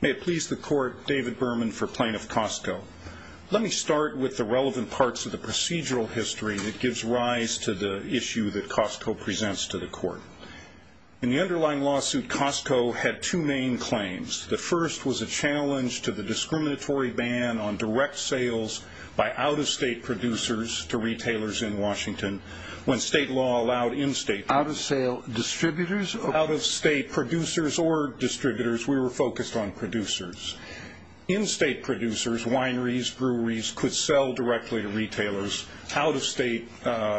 May it please the Court, David Berman for Plaintiff, Costco. Let me start with the relevant parts of the procedural history that gives rise to the issue that Costco presents to the Court. In the underlying lawsuit, Costco had two main claims. The first was a challenge to the discriminatory ban on direct sales by out-of-state producers to retailers in Washington when state law allowed in-state producers. Out-of-sale distributors? Out-of-state producers or distributors. We were focused on producers. In-state producers, wineries, breweries, could sell directly to retailers. Out-of-state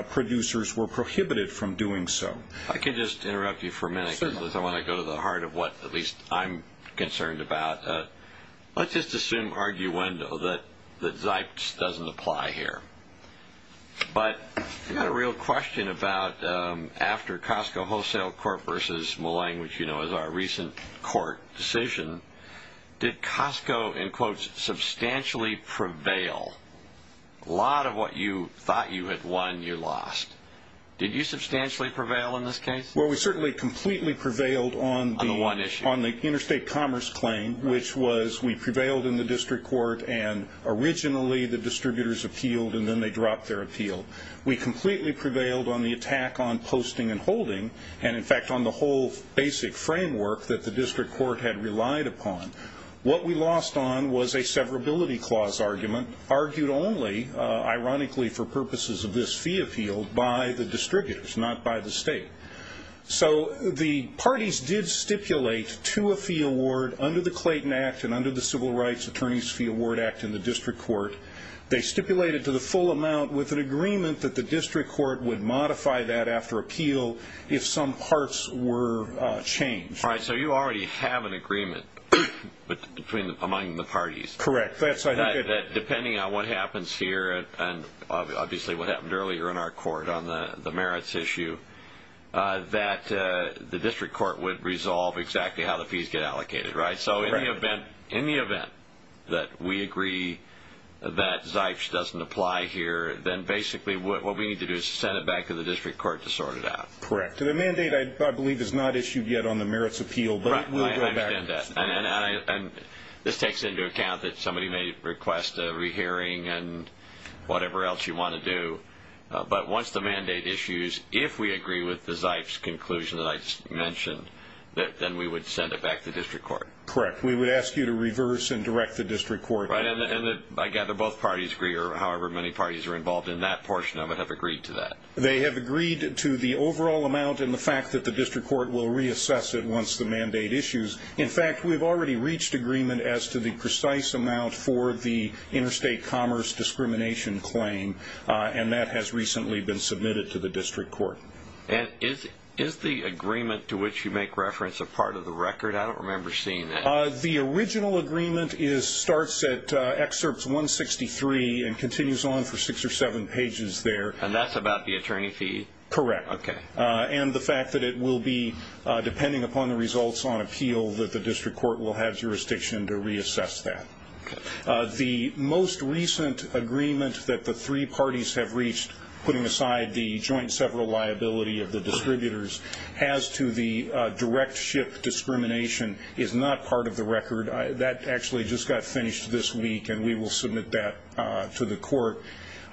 producers were prohibited from doing so. If I could just interrupt you for a minute because I want to go to the heart of what at least I'm concerned about. Let's just assume arguendo that Zipes doesn't apply here. But I've got a real question about after Costco Wholesale v. Mullane, which you know is our recent court decision, did Costco, in quotes, substantially prevail? A lot of what you thought you had won, you lost. Did you substantially prevail in this case? Well, we certainly completely prevailed on the one issue, on the interstate commerce claim, which was we prevailed in the district court and originally the distributors appealed and then they dropped their appeal. We completely prevailed on the attack on posting and holding, and in fact on the whole basic framework that the district court had relied upon. What we lost on was a severability clause argument argued only, ironically, for purposes of this fee appeal by the distributors, not by the state. So the parties did stipulate to a fee award under the Clayton Act and under the Civil Rights Attorneys Fee Award Act in the district court. They stipulated to the full amount with an agreement that the district court would modify that after appeal if some parts were changed. All right, so you already have an agreement among the parties. Correct. Depending on what happens here, and obviously what happened earlier in our court on the merits issue, that the district court would resolve exactly how the fees get allocated, right? So in the event that we agree that ZEICH doesn't apply here, then basically what we need to do is send it back to the district court to sort it out. Correct. The mandate, I believe, is not issued yet on the merits appeal, but it will go back. This takes into account that somebody may request a rehearing and whatever else you want to do. But once the mandate issues, if we agree with the ZEICH's conclusion that I just mentioned, then we would send it back to the district court. Correct. We would ask you to reverse and direct the district court. Right, and I gather both parties agree, or however many parties are involved in that portion of it, have agreed to that. They have agreed to the overall amount and the fact that the district court will reassess it once the mandate issues. In fact, we've already reached agreement as to the precise amount for the interstate commerce discrimination claim, and that has recently been submitted to the district court. And is the agreement to which you make reference a part of the record? I don't remember seeing that. The original agreement starts at excerpts 163 and continues on for six or seven pages there. And that's about the attorney fee? Correct. Okay. And the fact that it will be, depending upon the results on appeal, that the district court will have jurisdiction to reassess that. Okay. The most recent agreement that the three parties have reached, putting aside the joint several liability of the distributors, as to the direct ship discrimination is not part of the record. That actually just got finished this week, and we will submit that to the court.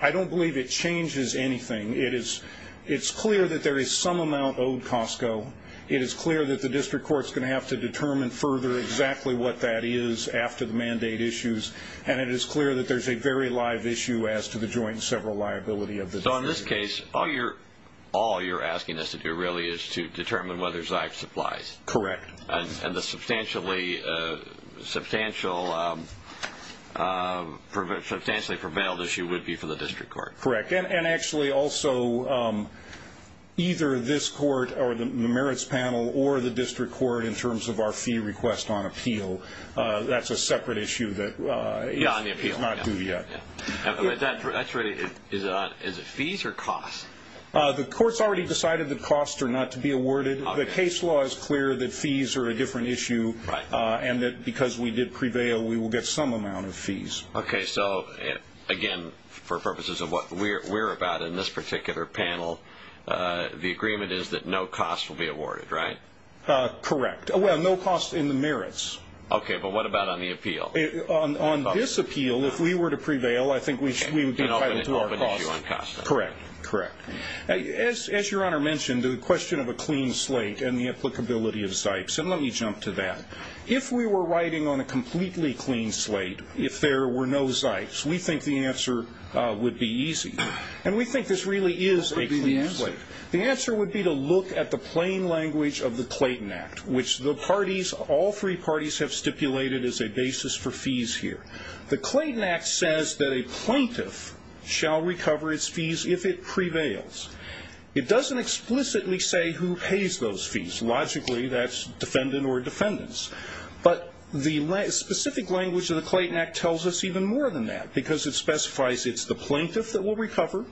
I don't believe it changes anything. It's clear that there is some amount owed, Costco. It is clear that the district court is going to have to determine further exactly what that is after the mandate issues, and it is clear that there's a very live issue as to the joint several liability of the distributors. So in this case, all you're asking us to do really is to determine whether Zyck supplies. Correct. And the substantially prevailed issue would be for the district court. Correct, and actually also either this court or the merits panel or the district court in terms of our fee request on appeal. That's a separate issue that is not due yet. Is it fees or costs? The court's already decided that costs are not to be awarded. The case law is clear that fees are a different issue, and that because we did prevail, we will get some amount of fees. Okay, so, again, for purposes of what we're about in this particular panel, the agreement is that no costs will be awarded, right? Correct. Well, no costs in the merits. Okay, but what about on the appeal? On this appeal, if we were to prevail, I think we would be entitled to our costs. Correct, correct. As Your Honor mentioned, the question of a clean slate and the applicability of Zycks, and let me jump to that. If we were writing on a completely clean slate, if there were no Zycks, we think the answer would be easy, and we think this really is a clean slate. What would be the answer? The answer would be to look at the plain language of the Clayton Act, which the parties, all three parties, have stipulated as a basis for fees here. The Clayton Act says that a plaintiff shall recover its fees if it prevails. It doesn't explicitly say who pays those fees. Logically, that's defendant or defendants. But the specific language of the Clayton Act tells us even more than that because it specifies it's the plaintiff that will recover,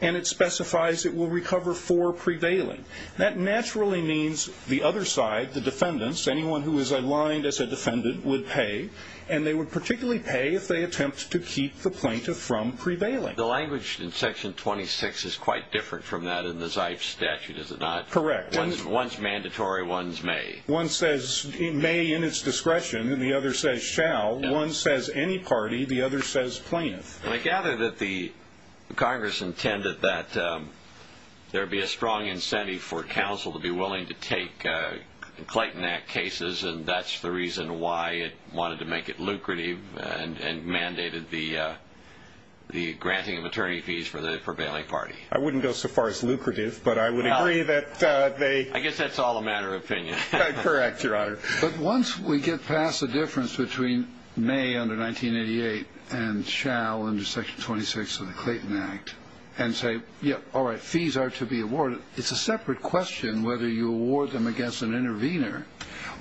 and it specifies it will recover for prevailing. That naturally means the other side, the defendants, anyone who is aligned as a defendant would pay, and they would particularly pay if they attempt to keep the plaintiff from prevailing. The language in Section 26 is quite different from that in the Zycks statute, is it not? Correct. One's mandatory, one's may. One says may in its discretion, and the other says shall. One says any party, the other says plaintiff. I gather that the Congress intended that there be a strong incentive for counsel to be willing to take Clayton Act cases, and that's the reason why it wanted to make it lucrative and mandated the granting of attorney fees for the prevailing party. I wouldn't go so far as lucrative, but I would agree that they... I guess that's all a matter of opinion. Correct, Your Honor. But once we get past the difference between may under 1988 and shall under Section 26 of the Clayton Act and say, yeah, all right, fees are to be awarded, it's a separate question whether you award them against an intervener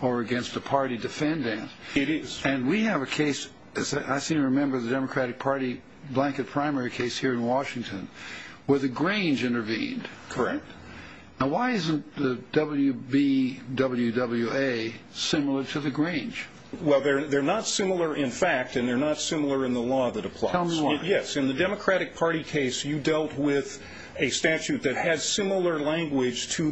or against a party defendant. It is. And we have a case, I seem to remember, the Democratic Party blanket primary case here in Washington where the Grange intervened. Correct. Now why isn't the WB-WWA similar to the Grange? Well, they're not similar in fact, and they're not similar in the law that applies. Tell me why. Yes, in the Democratic Party case, you dealt with a statute that has similar language to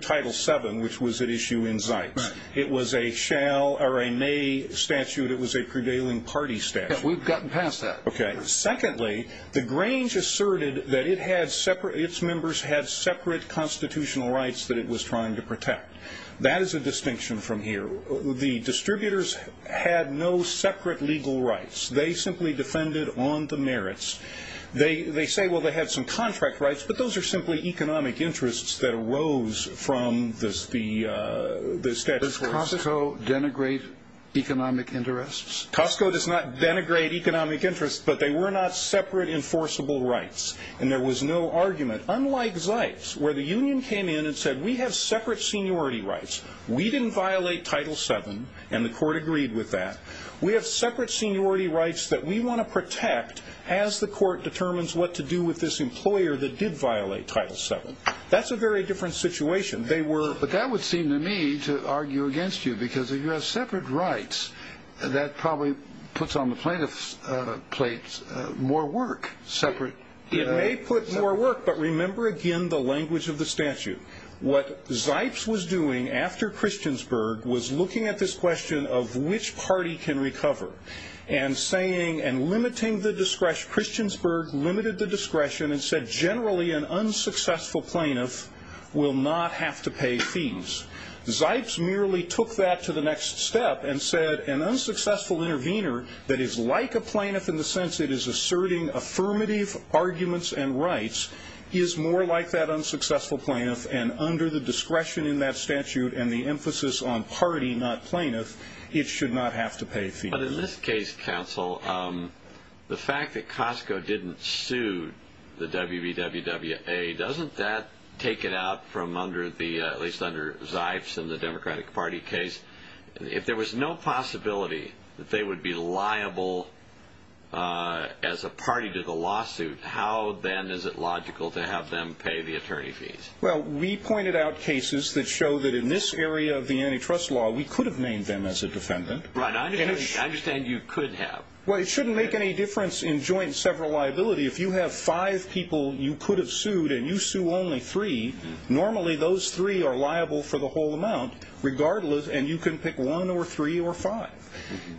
Title VII, which was at issue in Zeitz. It was a shall or a may statute. It was a prevailing party statute. Yeah, we've gotten past that. Okay. Secondly, the Grange asserted that its members had separate constitutional rights that it was trying to protect. That is a distinction from here. The distributors had no separate legal rights. They simply defended on the merits. They say, well, they had some contract rights, but those are simply economic interests that arose from the statute. Does Costco denigrate economic interests? Costco does not denigrate economic interests, but they were not separate enforceable rights, and there was no argument. Unlike Zeitz, where the union came in and said, we have separate seniority rights. We didn't violate Title VII, and the court agreed with that. We have separate seniority rights that we want to protect as the court determines what to do with this employer that did violate Title VII. That's a very different situation. But that would seem to me to argue against you, because if you have separate rights, that probably puts on the plaintiff's plate more work. It may put more work, but remember, again, the language of the statute. What Zeitz was doing after Christiansburg was looking at this question of which party can recover and saying and limiting the discretion. Christiansburg limited the discretion and said, generally, an unsuccessful plaintiff will not have to pay fees. Zeitz merely took that to the next step and said, an unsuccessful intervener that is like a plaintiff in the sense it is asserting affirmative arguments and rights is more like that unsuccessful plaintiff, and under the discretion in that statute and the emphasis on party, not plaintiff, it should not have to pay fees. But in this case, counsel, the fact that Costco didn't sue the WVWWA, doesn't that take it out from under, at least under Zeitz and the Democratic Party case? If there was no possibility that they would be liable as a party to the lawsuit, how then is it logical to have them pay the attorney fees? Well, we pointed out cases that show that in this area of the antitrust law, we could have named them as a defendant. Right. I understand you could have. Well, it shouldn't make any difference in joint several liability. If you have five people you could have sued and you sue only three, normally those three are liable for the whole amount regardless, and you can pick one or three or five.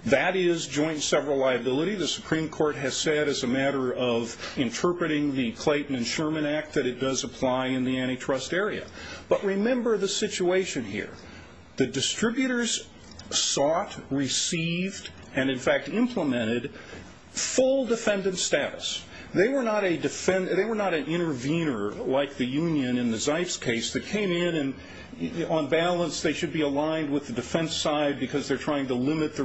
That is joint several liability. The Supreme Court has said as a matter of interpreting the Clayton and Sherman Act that it does apply in the antitrust area. But remember the situation here. The distributors sought, received, and in fact implemented full defendant status. They were not an intervener like the union in the Zeitz case that came in and on balance they should be aligned with the defense side because they're trying to limit the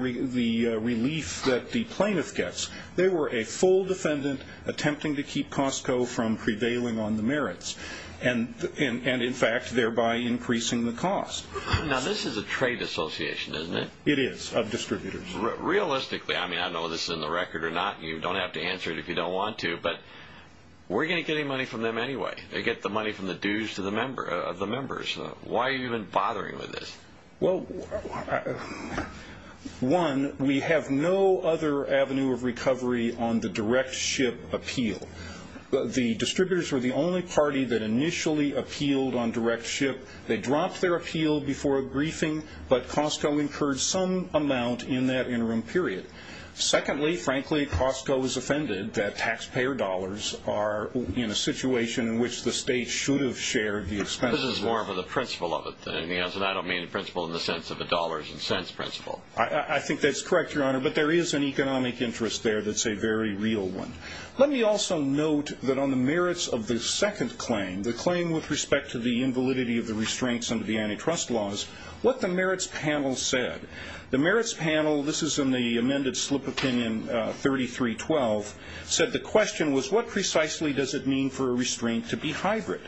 relief that the plaintiff gets. They were a full defendant attempting to keep Costco from prevailing on the merits and in fact thereby increasing the cost. Now, this is a trade association, isn't it? It is, of distributors. Realistically, I mean, I don't know if this is in the record or not. You don't have to answer it if you don't want to, but we're going to get any money from them anyway. They get the money from the dues of the members. Why are you even bothering with this? Well, one, we have no other avenue of recovery on the direct ship appeal. The distributors were the only party that initially appealed on direct ship. They dropped their appeal before a briefing, but Costco incurred some amount in that interim period. Secondly, frankly, Costco is offended that taxpayer dollars are in a situation in which the state should have shared the expenses. This is more of the principle of it than anything else, and I don't mean the principle in the sense of the dollars and cents principle. I think that's correct, Your Honor, but there is an economic interest there that's a very real one. Let me also note that on the merits of the second claim, the claim with respect to the invalidity of the restraints under the antitrust laws, what the merits panel said. The merits panel, this is in the amended slip opinion 33-12, said the question was what precisely does it mean for a restraint to be hybrid?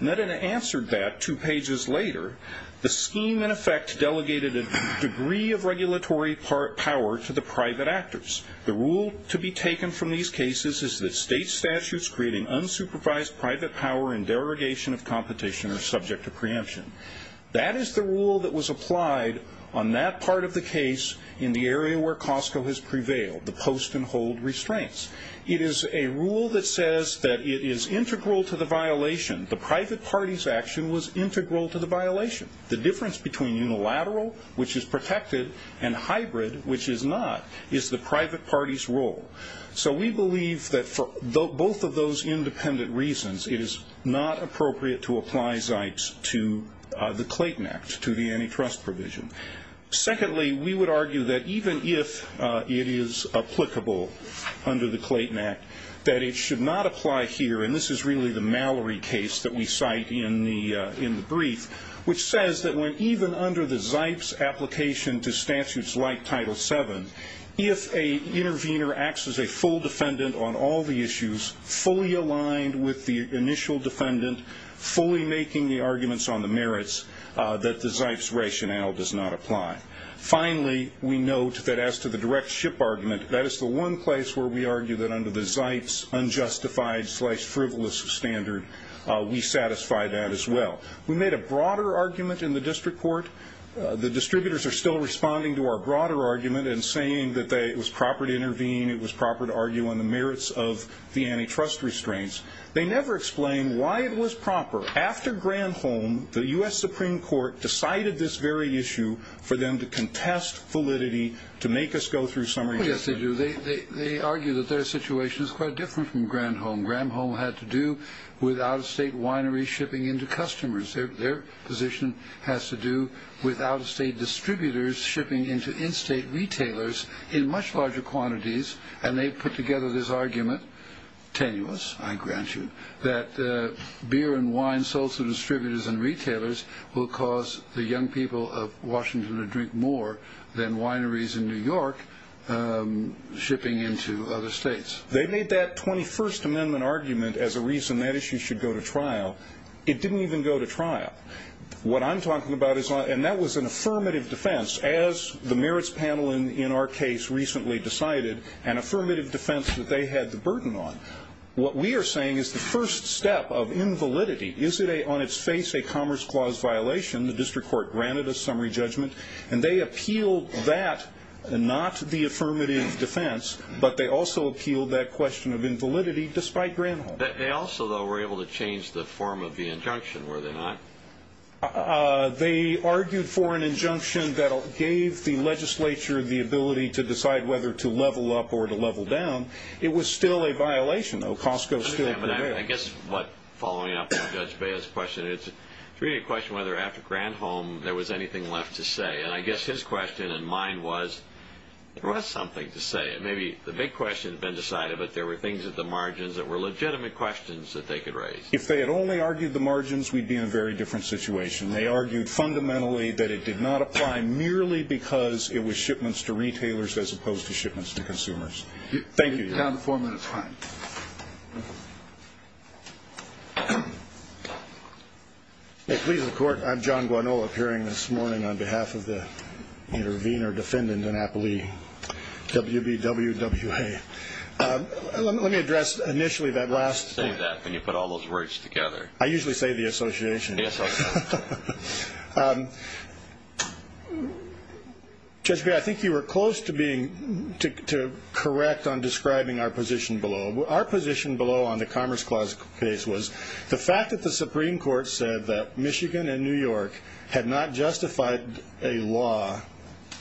Netta answered that two pages later. The scheme, in effect, delegated a degree of regulatory power to the private actors. The rule to be taken from these cases is that state statutes creating unsupervised private power and derogation of competition are subject to preemption. That is the rule that was applied on that part of the case in the area where Costco has prevailed, the post and hold restraints. It is a rule that says that it is integral to the violation. The private party's action was integral to the violation. The difference between unilateral, which is protected, and hybrid, which is not, is the private party's role. So we believe that for both of those independent reasons, it is not appropriate to apply Zipes to the Clayton Act, to the antitrust provision. Secondly, we would argue that even if it is applicable under the Clayton Act, that it should not apply here, and this is really the Mallory case that we cite in the brief, which says that even under the Zipes application to statutes like Title VII, if an intervener acts as a full defendant on all the issues, fully aligned with the initial defendant, fully making the arguments on the merits, that the Zipes rationale does not apply. Finally, we note that as to the direct ship argument, that is the one place where we argue that under the Zipes unjustified-slash-frivolous standard, we satisfy that as well. We made a broader argument in the district court. The distributors are still responding to our broader argument and saying that it was proper to intervene, it was proper to argue on the merits of the antitrust restraints. They never explain why it was proper. After Granholm, the U.S. Supreme Court decided this very issue for them to contest validity, to make us go through some rejection. Yes, they do. They argue that their situation is quite different from Granholm. Granholm had to do with out-of-state wineries shipping into customers. Their position has to do with out-of-state distributors shipping into in-state retailers in much larger quantities, and they put together this argument, tenuous, I grant you, that beer and wine sold to distributors and retailers will cause the young people of Washington to drink more than wineries in New York shipping into other states. They made that 21st Amendment argument as a reason that issue should go to trial. It didn't even go to trial. What I'm talking about is, and that was an affirmative defense, as the merits panel in our case recently decided, an affirmative defense that they had the burden on. What we are saying is the first step of invalidity. Is it on its face a commerce clause violation? The district court granted a summary judgment, and they appealed that, not the affirmative defense, but they also appealed that question of invalidity, despite Granholm. They also, though, were able to change the form of the injunction, were they not? They argued for an injunction that gave the legislature the ability to decide whether to level up or to level down. It was still a violation, though. Costco still prevailed. I guess, following up on Judge Baez's question, it's really a question whether after Granholm there was anything left to say. And I guess his question and mine was, there was something to say. Maybe the big question had been decided, but there were things at the margins that were legitimate questions that they could raise. If they had only argued the margins, we'd be in a very different situation. They argued fundamentally that it did not apply merely because it was shipments to retailers as opposed to shipments to consumers. Thank you. You're down to four minutes. Fine. Please, the Court. I'm John Guanola, appearing this morning on behalf of the intervener defendant in Appalooie, WBWWA. Let me address initially that last thing. Save that when you put all those words together. I usually say the association. The association. Judge Baez, I think you were close to being, to correct on describing our position below. Our position below on the Commerce Clause case was the fact that the Supreme Court said that Michigan and New York had not justified a law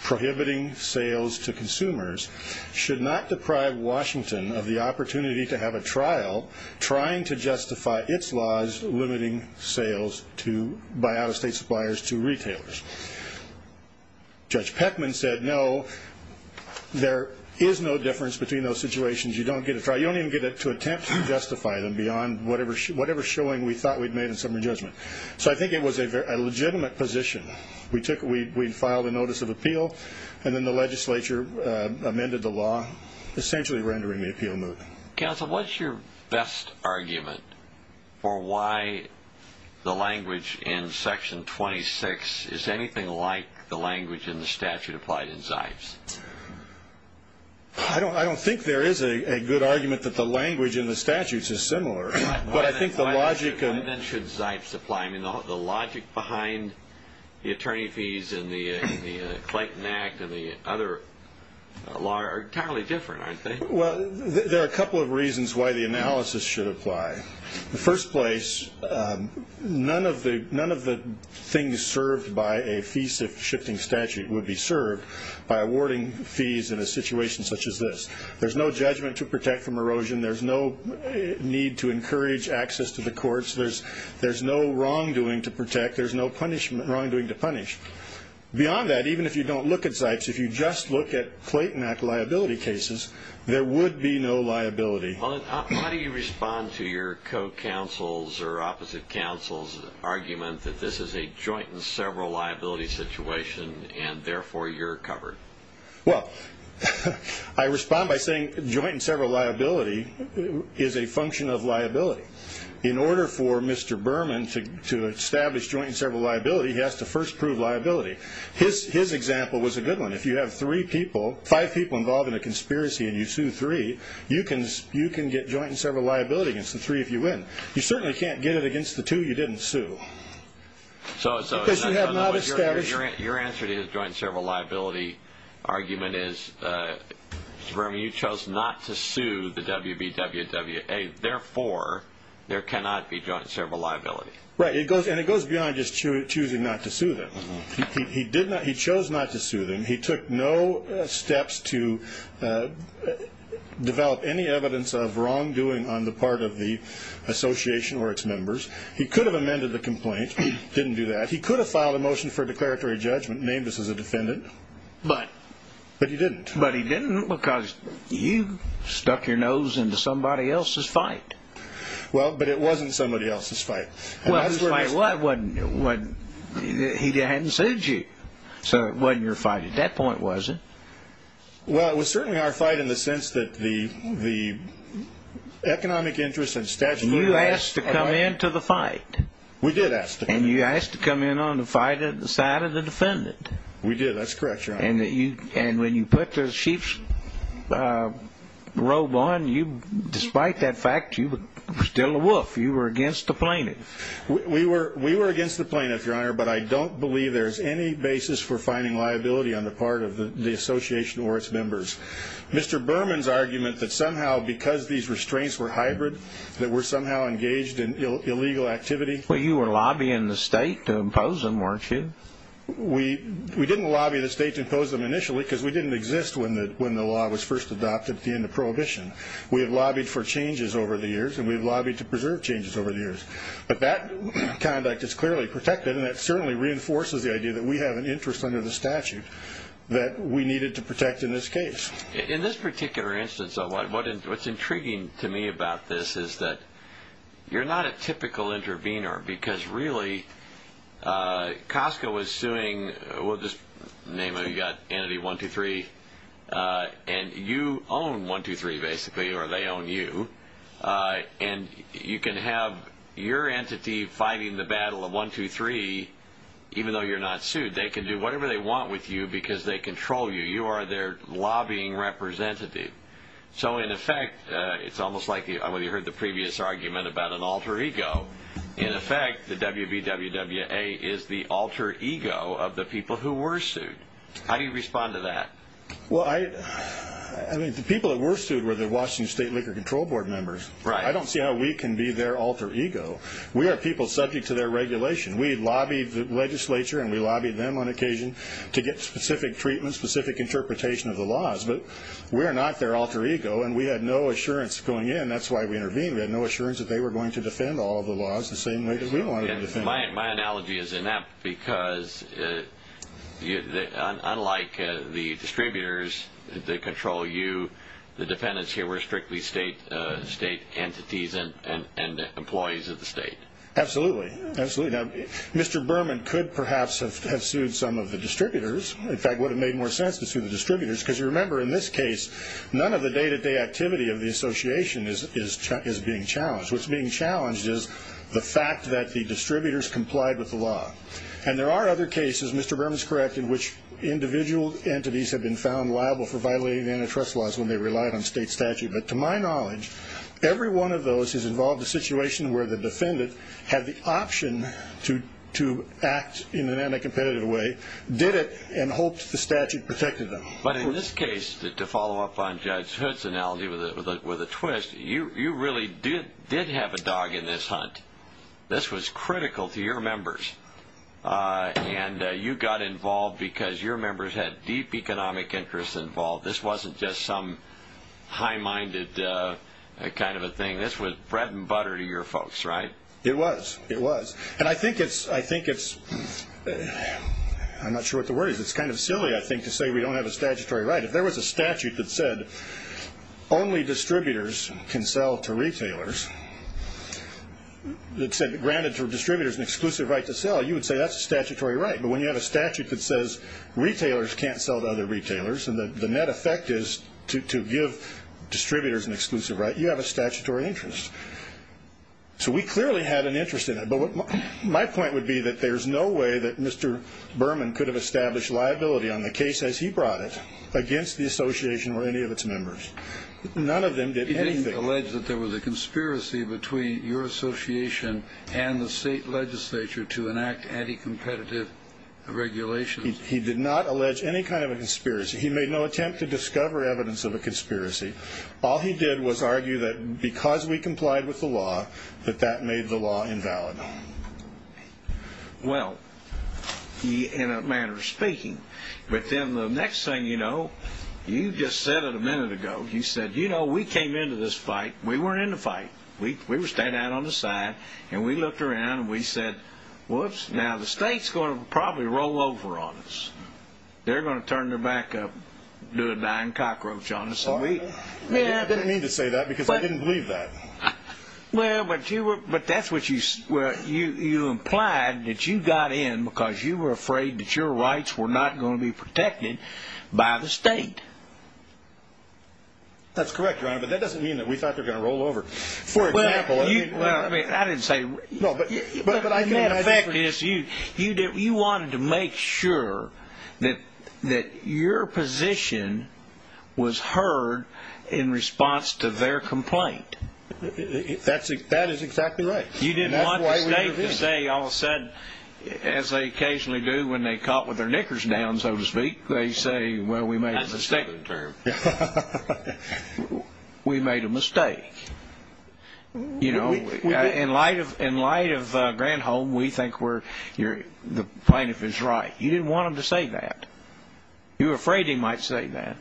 prohibiting sales to consumers should not deprive Washington of the opportunity to have a trial trying to justify its laws limiting sales by out-of-state suppliers to retailers. Judge Peckman said, no, there is no difference between those situations. You don't get a trial. You don't even get to attempt to justify them beyond whatever showing we thought we'd made in summary judgment. So I think it was a legitimate position. We'd filed a notice of appeal, and then the legislature amended the law, essentially rendering the appeal moot. Counsel, what's your best argument for why the language in Section 26 is anything like the language in the statute applied in Zipes? I don't think there is a good argument that the language in the statutes is similar. Why then should Zipes apply? I mean, the logic behind the attorney fees and the Clayton Act and the other law are entirely different, aren't they? Well, there are a couple of reasons why the analysis should apply. In the first place, none of the things served by a fee-shifting statute would be served by awarding fees in a situation such as this. There's no judgment to protect from erosion. There's no need to encourage access to the courts. There's no wrongdoing to protect. There's no wrongdoing to punish. Beyond that, even if you don't look at Zipes, if you just look at Clayton Act liability cases, there would be no liability. Why do you respond to your co-counsel's or opposite counsel's argument that this is a joint and several liability situation and, therefore, you're covered? Well, I respond by saying joint and several liability is a function of liability. In order for Mr. Berman to establish joint and several liability, he has to first prove liability. His example was a good one. If you have five people involved in a conspiracy and you sue three, you can get joint and several liability against the three if you win. You certainly can't get it against the two you didn't sue because you have not established. Your answer to his joint and several liability argument is, Mr. Berman, you chose not to sue the WBWA. Therefore, there cannot be joint and several liability. Right, and it goes beyond just choosing not to sue them. He chose not to sue them. He took no steps to develop any evidence of wrongdoing on the part of the association or its members. He could have amended the complaint. He didn't do that. He could have filed a motion for declaratory judgment and named us as a defendant. But? But he didn't. But he didn't because you stuck your nose into somebody else's fight. Well, but it wasn't somebody else's fight. Well, whose fight was it? He hadn't sued you. So it wasn't your fight at that point, was it? Well, it was certainly our fight in the sense that the economic interests and statutory rights. You asked to come into the fight. We did ask to come in. And you asked to come in on the side of the defendant. We did. That's correct, Your Honor. And when you put the sheep's robe on, despite that fact, you were still a wolf. You were against the plaintiff. We were against the plaintiff, Your Honor, but I don't believe there's any basis for finding liability on the part of the association or its members. Mr. Berman's argument that somehow because these restraints were hybrid that we're somehow engaged in illegal activity. Well, you were lobbying the state to impose them, weren't you? We didn't lobby the state to impose them initially because we didn't exist when the law was first adopted at the end of Prohibition. We have lobbied for changes over the years, and we've lobbied to preserve changes over the years. But that conduct is clearly protected, and that certainly reinforces the idea that we have an interest under the statute that we needed to protect in this case. In this particular instance, what's intriguing to me about this is that you're not a typical intervener because really Costco was suing – we'll just name it. You've got Entity 123, and you own 123 basically, or they own you. And you can have your entity fighting the battle of 123 even though you're not sued. They can do whatever they want with you because they control you. You are their lobbying representative. So, in effect, it's almost like when you heard the previous argument about an alter ego. In effect, the WBWWA is the alter ego of the people who were sued. How do you respond to that? The people that were sued were the Washington State Liquor Control Board members. I don't see how we can be their alter ego. We are people subject to their regulation. We lobbied the legislature, and we lobbied them on occasion to get specific treatment, specific interpretation of the laws. But we are not their alter ego, and we had no assurance going in. That's why we intervened. We had no assurance that they were going to defend all the laws the same way that we wanted to defend them. My analogy is inept because, unlike the distributors that control you, the defendants here were strictly state entities and employees of the state. Absolutely. Mr. Berman could perhaps have sued some of the distributors. In fact, it would have made more sense to sue the distributors because, you remember, in this case, none of the day-to-day activity of the association is being challenged. What's being challenged is the fact that the distributors complied with the law. And there are other cases, Mr. Berman is correct, in which individual entities have been found liable for violating antitrust laws when they relied on state statute. But to my knowledge, every one of those has involved a situation where the defendant had the option to act in an anticompetitive way, did it, and hoped the statute protected them. But in this case, to follow up on Judge Hood's analogy with a twist, you really did have a dog in this hunt. This was critical to your members. And you got involved because your members had deep economic interests involved. This wasn't just some high-minded kind of a thing. This was bread and butter to your folks, right? It was. It was. And I think it's – I'm not sure what the word is. It's kind of silly, I think, to say we don't have a statutory right. If there was a statute that said only distributors can sell to retailers, that said granted to distributors an exclusive right to sell, you would say that's a statutory right. But when you have a statute that says retailers can't sell to other retailers and the net effect is to give distributors an exclusive right, you have a statutory interest. So we clearly had an interest in it. But my point would be that there's no way that Mr. Berman could have established liability on the case as he brought it against the association or any of its members. None of them did anything. He didn't allege that there was a conspiracy between your association and the state legislature to enact anti-competitive regulations. He did not allege any kind of a conspiracy. He made no attempt to discover evidence of a conspiracy. All he did was argue that because we complied with the law, that that made the law invalid. Well, in a manner of speaking. But then the next thing you know, you just said it a minute ago. You said, you know, we came into this fight. We weren't in the fight. We were standing out on the side and we looked around and we said, whoops, now the state's going to probably roll over on us. They're going to turn their back up, do a dying cockroach on us. I didn't mean to say that because I didn't believe that. Well, but that's what you implied, that you got in because you were afraid that your rights were not going to be protected by the state. That's correct, Your Honor, but that doesn't mean that we thought they were going to roll over. For example, I mean. in response to their complaint. That is exactly right. You didn't want the state to say all of a sudden, as they occasionally do when they cop with their knickers down, so to speak, they say, well, we made a mistake. We made a mistake. You know, in light of Granholm, we think the plaintiff is right. You didn't want him to say that. You were afraid he might say that.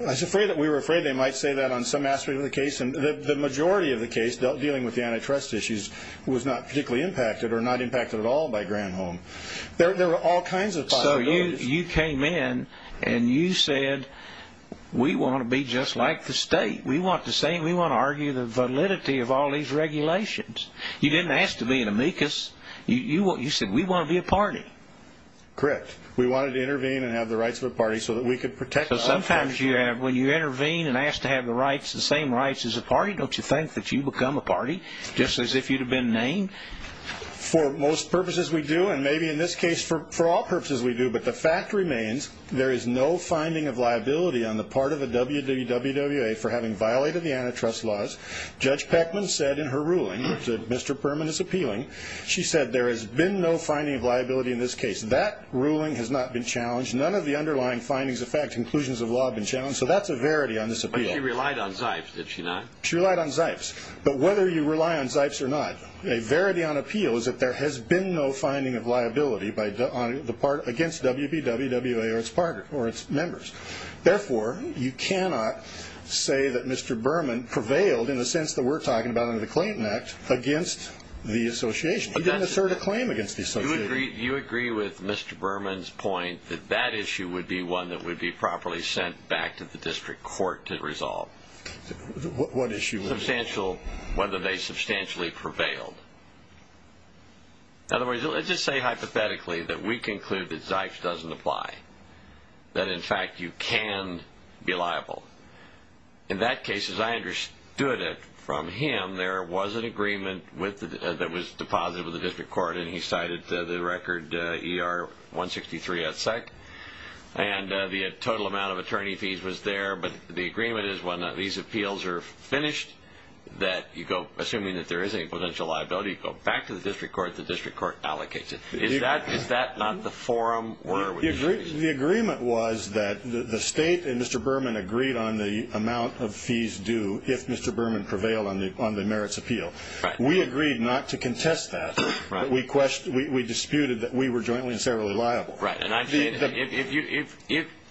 I was afraid that we were afraid they might say that on some aspect of the case, and the majority of the case dealing with the antitrust issues was not particularly impacted or not impacted at all by Granholm. There were all kinds of possibilities. So you came in and you said, we want to be just like the state. We want the same. We want to argue the validity of all these regulations. You didn't ask to be an amicus. You said, we want to be a party. Correct. We wanted to intervene and have the rights of a party so that we could protect ourselves. Sometimes when you intervene and ask to have the rights, the same rights as a party, don't you think that you become a party, just as if you'd have been named? For most purposes we do, and maybe in this case for all purposes we do, but the fact remains there is no finding of liability on the part of the WWWA for having violated the antitrust laws. Judge Peckman said in her ruling, which Mr. Perman is appealing, she said there has been no finding of liability in this case. That ruling has not been challenged. None of the underlying findings of fact, conclusions of law have been challenged. So that's a verity on this appeal. But she relied on Zipes, did she not? She relied on Zipes. But whether you rely on Zipes or not, a verity on appeal is that there has been no finding of liability against WPWA or its members. Therefore, you cannot say that Mr. Berman prevailed, in the sense that we're talking about under the Clayton Act, against the association. He didn't assert a claim against the association. Do you agree with Mr. Berman's point that that issue would be one that would be properly sent back to the district court to resolve? What issue? Whether they substantially prevailed. In other words, let's just say hypothetically that we conclude that Zipes doesn't apply, that in fact you can be liable. In that case, as I understood it from him, there was an agreement that was deposited with the district court, and he cited the record ER-163 as such. And the total amount of attorney fees was there, but the agreement is when these appeals are finished that you go, assuming that there is any potential liability, you go back to the district court, the district court allocates it. Is that not the forum? The agreement was that the state and Mr. Berman agreed on the amount of fees due if Mr. Berman prevailed on the merits appeal. We agreed not to contest that. We disputed that we were jointly and severally liable. Right. And I'm saying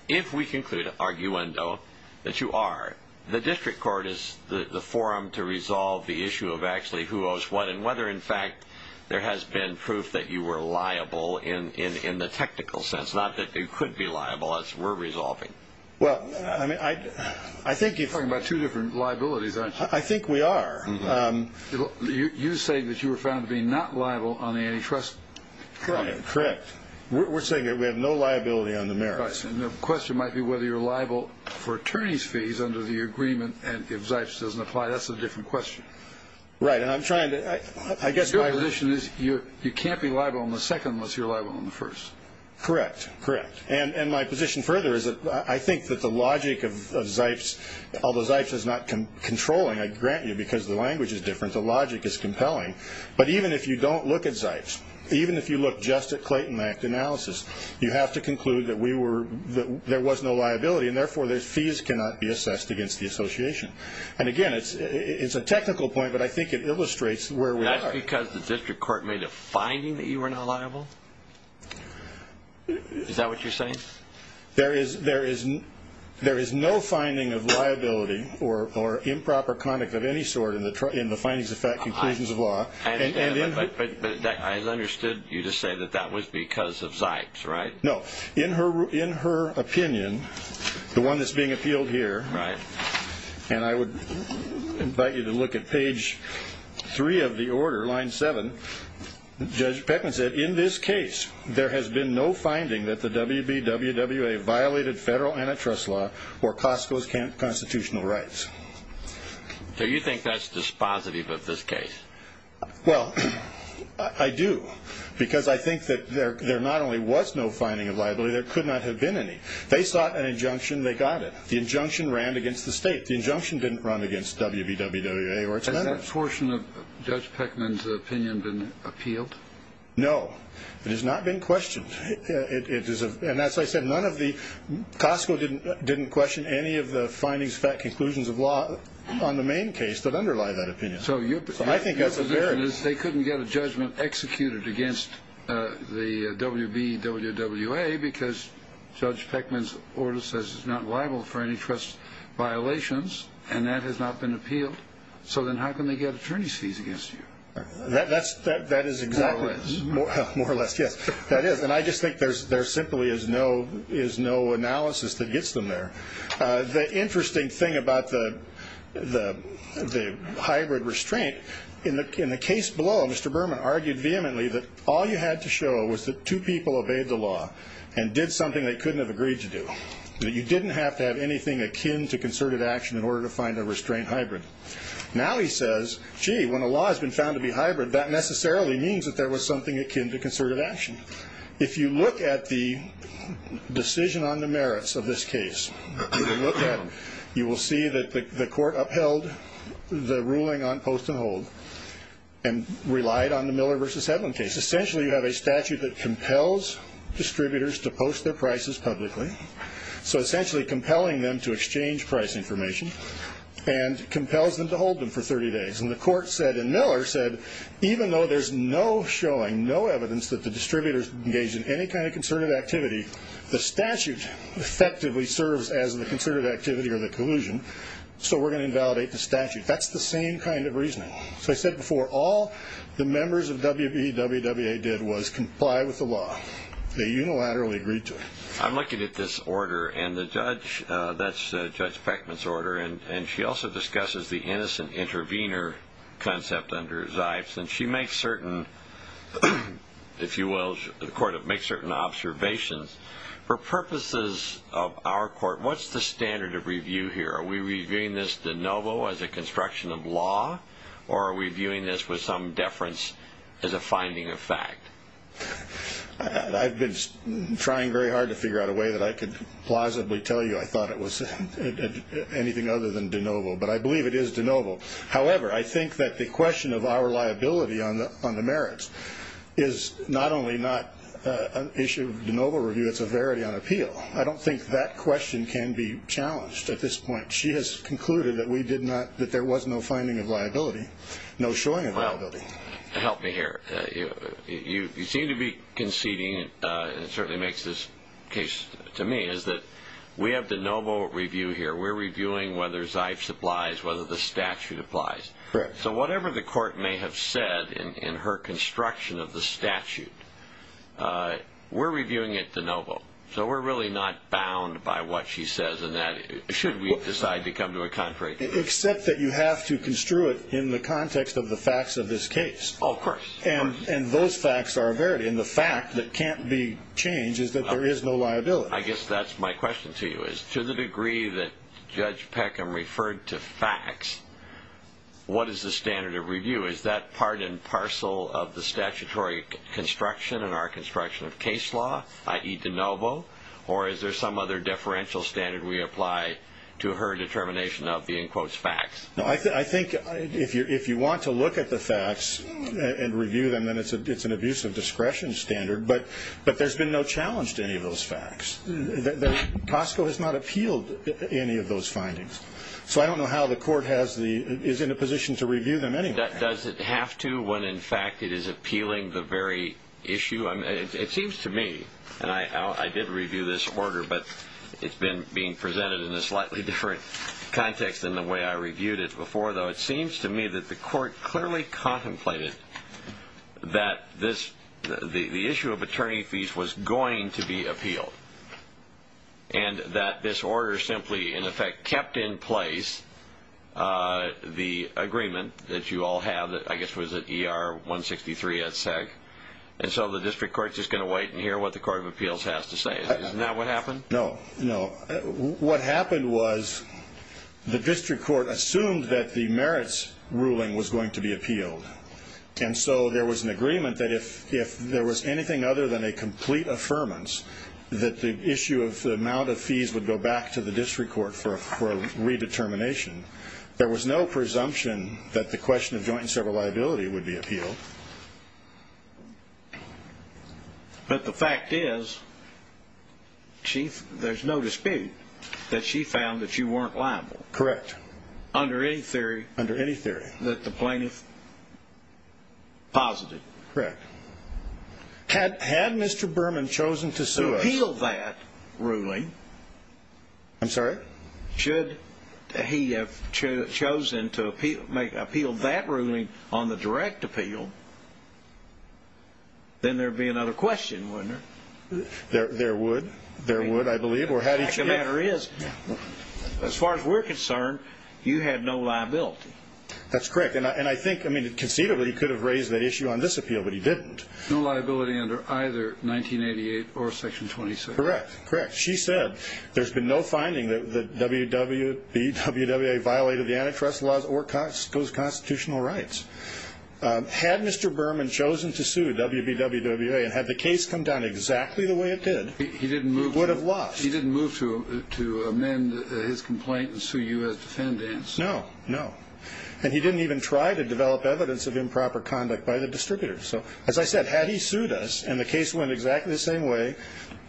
if we conclude, arguendo, that you are, the district court is the forum to resolve the issue of actually who owes what and whether, in fact, there has been proof that you were liable in the technical sense, not that you could be liable as we're resolving. Well, I mean, I think if you're talking about two different liabilities, aren't you? I think we are. You're saying that you were found to be not liable on the antitrust. Correct. We're saying that we have no liability on the merits. Right. And the question might be whether you're liable for attorney's fees under the agreement and if Zipes doesn't apply. That's a different question. Right. And I'm trying to, I guess my position is you can't be liable on the second unless you're liable on the first. Correct. Correct. And my position further is that I think that the logic of Zipes, although Zipes is not controlling, I grant you because the language is different, the logic is compelling, but even if you don't look at Zipes, even if you look just at Clayton Act analysis, you have to conclude that there was no liability and therefore the fees cannot be assessed against the association. And again, it's a technical point, but I think it illustrates where we are. That's because the district court made a finding that you were not liable? Is that what you're saying? There is no finding of liability or improper conduct of any sort in the findings of fact conclusions of law. But I understood you to say that that was because of Zipes, right? No. In her opinion, the one that's being appealed here, and I would invite you to look at page 3 of the order, line 7, Judge Peckman said, in this case there has been no finding that the WB-WWA violated federal antitrust law or Costco's constitutional rights. So you think that's dispositive of this case? Well, I do because I think that there not only was no finding of liability, there could not have been any. They sought an injunction, they got it. The injunction ran against the state. The injunction didn't run against WB-WWA or its members. Has that portion of Judge Peckman's opinion been appealed? No. It has not been questioned. And that's why I said Costco didn't question any of the findings of fact conclusions of law on the main case that underlie that opinion. So your position is they couldn't get a judgment executed against the WB-WWA because Judge Peckman's order says it's not liable for antitrust violations, and that has not been appealed. So then how can they get attorney's fees against you? More or less. More or less, yes. That is. And I just think there simply is no analysis that gets them there. The interesting thing about the hybrid restraint, in the case below, Mr. Berman argued vehemently that all you had to show was that two people obeyed the law and did something they couldn't have agreed to do, that you didn't have to have anything akin to concerted action in order to find a restraint hybrid. Now he says, gee, when a law has been found to be hybrid, that necessarily means that there was something akin to concerted action. If you look at the decision on the merits of this case, you will see that the court upheld the ruling on post and hold and relied on the Miller v. Headland case. Essentially you have a statute that compels distributors to post their prices publicly, so essentially compelling them to exchange price information and compels them to hold them for 30 days. And the court said, and Miller said, even though there's no showing, no evidence, that the distributors engaged in any kind of concerted activity, the statute effectively serves as the concerted activity or the collusion, so we're going to invalidate the statute. That's the same kind of reasoning. So I said before, all the members of WBE-WWA did was comply with the law. They unilaterally agreed to it. I'm looking at this order, and that's Judge Peckman's order, and she also discusses the innocent intervener concept under Zipes, and she makes certain, if you will, the court makes certain observations. For purposes of our court, what's the standard of review here? Are we reviewing this de novo as a construction of law or are we viewing this with some deference as a finding of fact? I've been trying very hard to figure out a way that I could plausibly tell you I thought it was anything other than de novo, but I believe it is de novo. However, I think that the question of our liability on the merits is not only not an issue of de novo review, it's a verity on appeal. I don't think that question can be challenged at this point. She has concluded that there was no finding of liability, no showing of liability. Help me here. You seem to be conceding, and it certainly makes this case to me, is that we have de novo review here. We're reviewing whether Zipes applies, whether the statute applies. So whatever the court may have said in her construction of the statute, we're reviewing it de novo. So we're really not bound by what she says in that, should we decide to come to a contrary. Except that you have to construe it in the context of the facts of this case. Of course. And those facts are a verity, and the fact that can't be changed is that there is no liability. I guess that's my question to you, is to the degree that Judge Peckham referred to facts, what is the standard of review? Is that part and parcel of the statutory construction and our construction of case law, i.e. de novo, or is there some other differential standard we apply to her determination of the in quotes facts? No, I think if you want to look at the facts and review them, then it's an abuse of discretion standard. But there's been no challenge to any of those facts. Costco has not appealed any of those findings. So I don't know how the court is in a position to review them anyway. Does it have to when, in fact, it is appealing the very issue? It seems to me, and I did review this order, but it's been being presented in a slightly different context than the way I reviewed it before, though. It seems to me that the court clearly contemplated that the issue of attorney fees was going to be appealed and that this order simply, in effect, kept in place the agreement that you all have, I guess it was at ER 163 at SAG. And so the district court is just going to wait and hear what the court of appeals has to say. Isn't that what happened? No, no. What happened was the district court assumed that the merits ruling was going to be appealed. And so there was an agreement that if there was anything other than a complete affirmance, that the issue of the amount of fees would go back to the district court for redetermination. There was no presumption that the question of joint and several liability would be appealed. But the fact is, Chief, there's no dispute that she found that you weren't liable. Correct. Under any theory that the plaintiff posited. Correct. Had Mr. Berman chosen to appeal that ruling, I'm sorry? Should he have chosen to appeal that ruling on the direct appeal, then there would be another question, wouldn't there? There would. There would, I believe. The fact of the matter is, as far as we're concerned, you had no liability. That's correct. And I think conceivably he could have raised that issue on this appeal, but he didn't. No liability under either 1988 or Section 26. Correct, correct. She said there's been no finding that WBWA violated the antitrust laws or those constitutional rights. Had Mr. Berman chosen to sue WBWA and had the case come down exactly the way it did, he would have lost. He didn't move to amend his complaint and sue you as defendants. No, no. And he didn't even try to develop evidence of improper conduct by the distributors. So, as I said, had he sued us and the case went exactly the same way,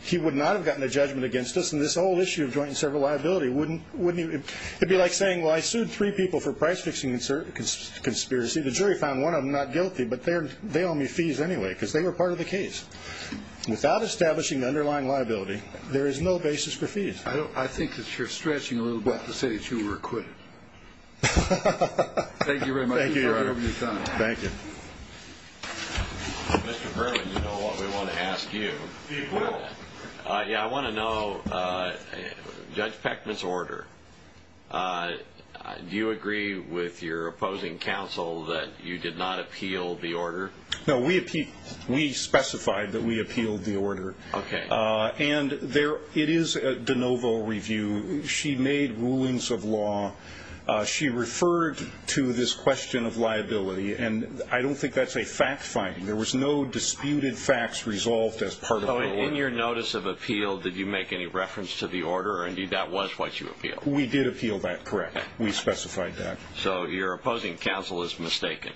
he would not have gotten a judgment against us. And this whole issue of joint and several liability, wouldn't he? It would be like saying, well, I sued three people for price-fixing conspiracy. The jury found one of them not guilty, but they owe me fees anyway because they were part of the case. Without establishing the underlying liability, there is no basis for fees. I think that you're stretching a little bit to say that you were acquitted. Thank you very much for your time. Thank you. Mr. Berman, you know what we want to ask you. Yeah, I want to know Judge Pechman's order. Do you agree with your opposing counsel that you did not appeal the order? No, we specified that we appealed the order. Okay. And it is a de novo review. She made rulings of law. She referred to this question of liability, and I don't think that's a fact-finding. There was no disputed facts resolved as part of the order. In your notice of appeal, did you make any reference to the order? Indeed, that was what you appealed. We did appeal that. Correct. We specified that. So your opposing counsel is mistaken.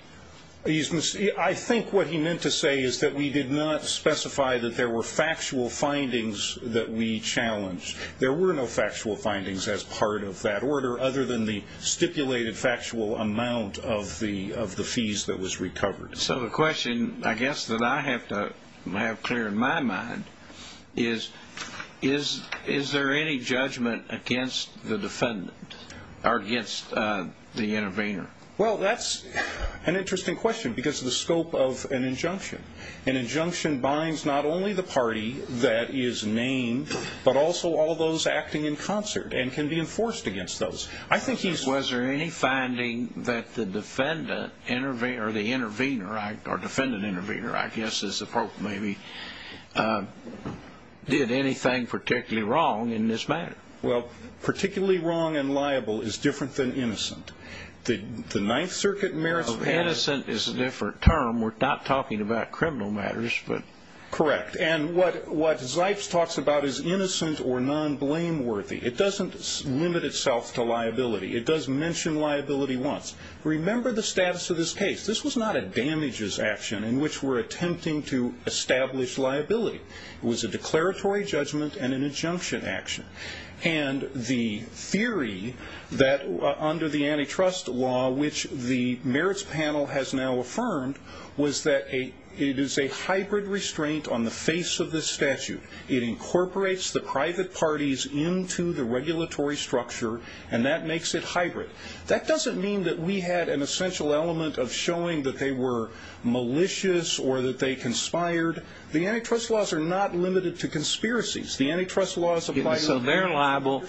I think what he meant to say is that we did not specify that there were factual findings that we challenged. There were no factual findings as part of that order other than the stipulated factual amount of the fees that was recovered. So the question, I guess, that I have to have clear in my mind is, is there any judgment against the defendant or against the intervener? Well, that's an interesting question because of the scope of an injunction. An injunction binds not only the party that is named but also all those acting in concert and can be enforced against those. Was there any finding that the defendant or the intervener, or defendant-intervener, I guess is the proper name, did anything particularly wrong in this matter? Well, particularly wrong and liable is different than innocent. The Ninth Circuit merits... Innocent is a different term. We're not talking about criminal matters. Correct. And what Zipes talks about is innocent or non-blameworthy. It doesn't limit itself to liability. It does mention liability once. Remember the status of this case. This was not a damages action in which we're attempting to establish liability. It was a declaratory judgment and an injunction action. And the theory that under the antitrust law, which the merits panel has now affirmed, was that it is a hybrid restraint on the face of this statute. It incorporates the private parties into the regulatory structure, and that makes it hybrid. That doesn't mean that we had an essential element of showing that they were malicious or that they conspired. The antitrust laws are not limited to conspiracies. The antitrust laws apply... So they're liable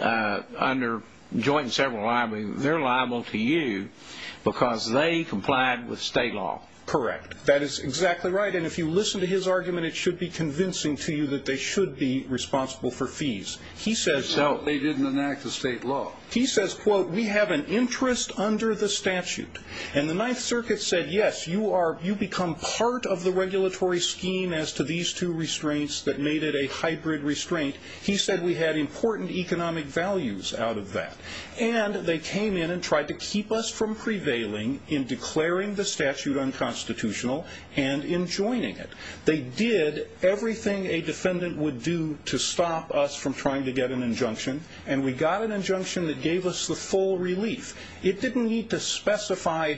under joint and several liabilities. They're liable to you because they complied with state law. Correct. That is exactly right. And if you listen to his argument, it should be convincing to you that they should be responsible for fees. So they didn't enact the state law. He says, quote, we have an interest under the statute. And the Ninth Circuit said, yes, you become part of the regulatory scheme as to these two restraints that made it a hybrid restraint. He said we had important economic values out of that. And they came in and tried to keep us from prevailing in declaring the statute unconstitutional and in joining it. They did everything a defendant would do to stop us from trying to get an injunction, and we got an injunction that gave us the full relief. It didn't need to specify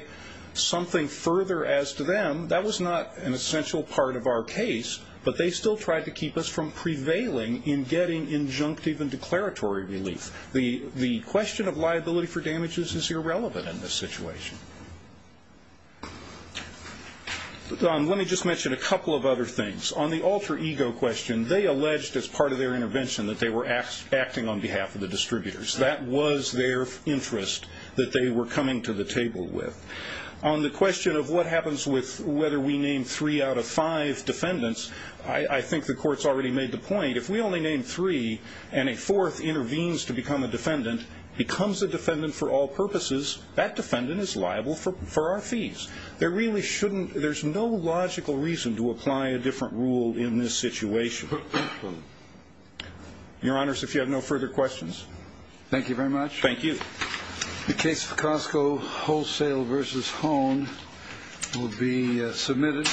something further as to them. That was not an essential part of our case. But they still tried to keep us from prevailing in getting injunctive and declaratory relief. The question of liability for damages is irrelevant in this situation. Don, let me just mention a couple of other things. On the alter ego question, they alleged as part of their intervention that they were acting on behalf of the distributors. That was their interest that they were coming to the table with. On the question of what happens with whether we name three out of five defendants, I think the court's already made the point. If we only name three and a fourth intervenes to become a defendant, becomes a defendant for all purposes, that defendant is liable for our fees. There really shouldn't ñ there's no logical reason to apply a different rule in this situation. Your Honors, if you have no further questions. Thank you very much. Thank you. The case of Costco Wholesale v. Hone will be submitted.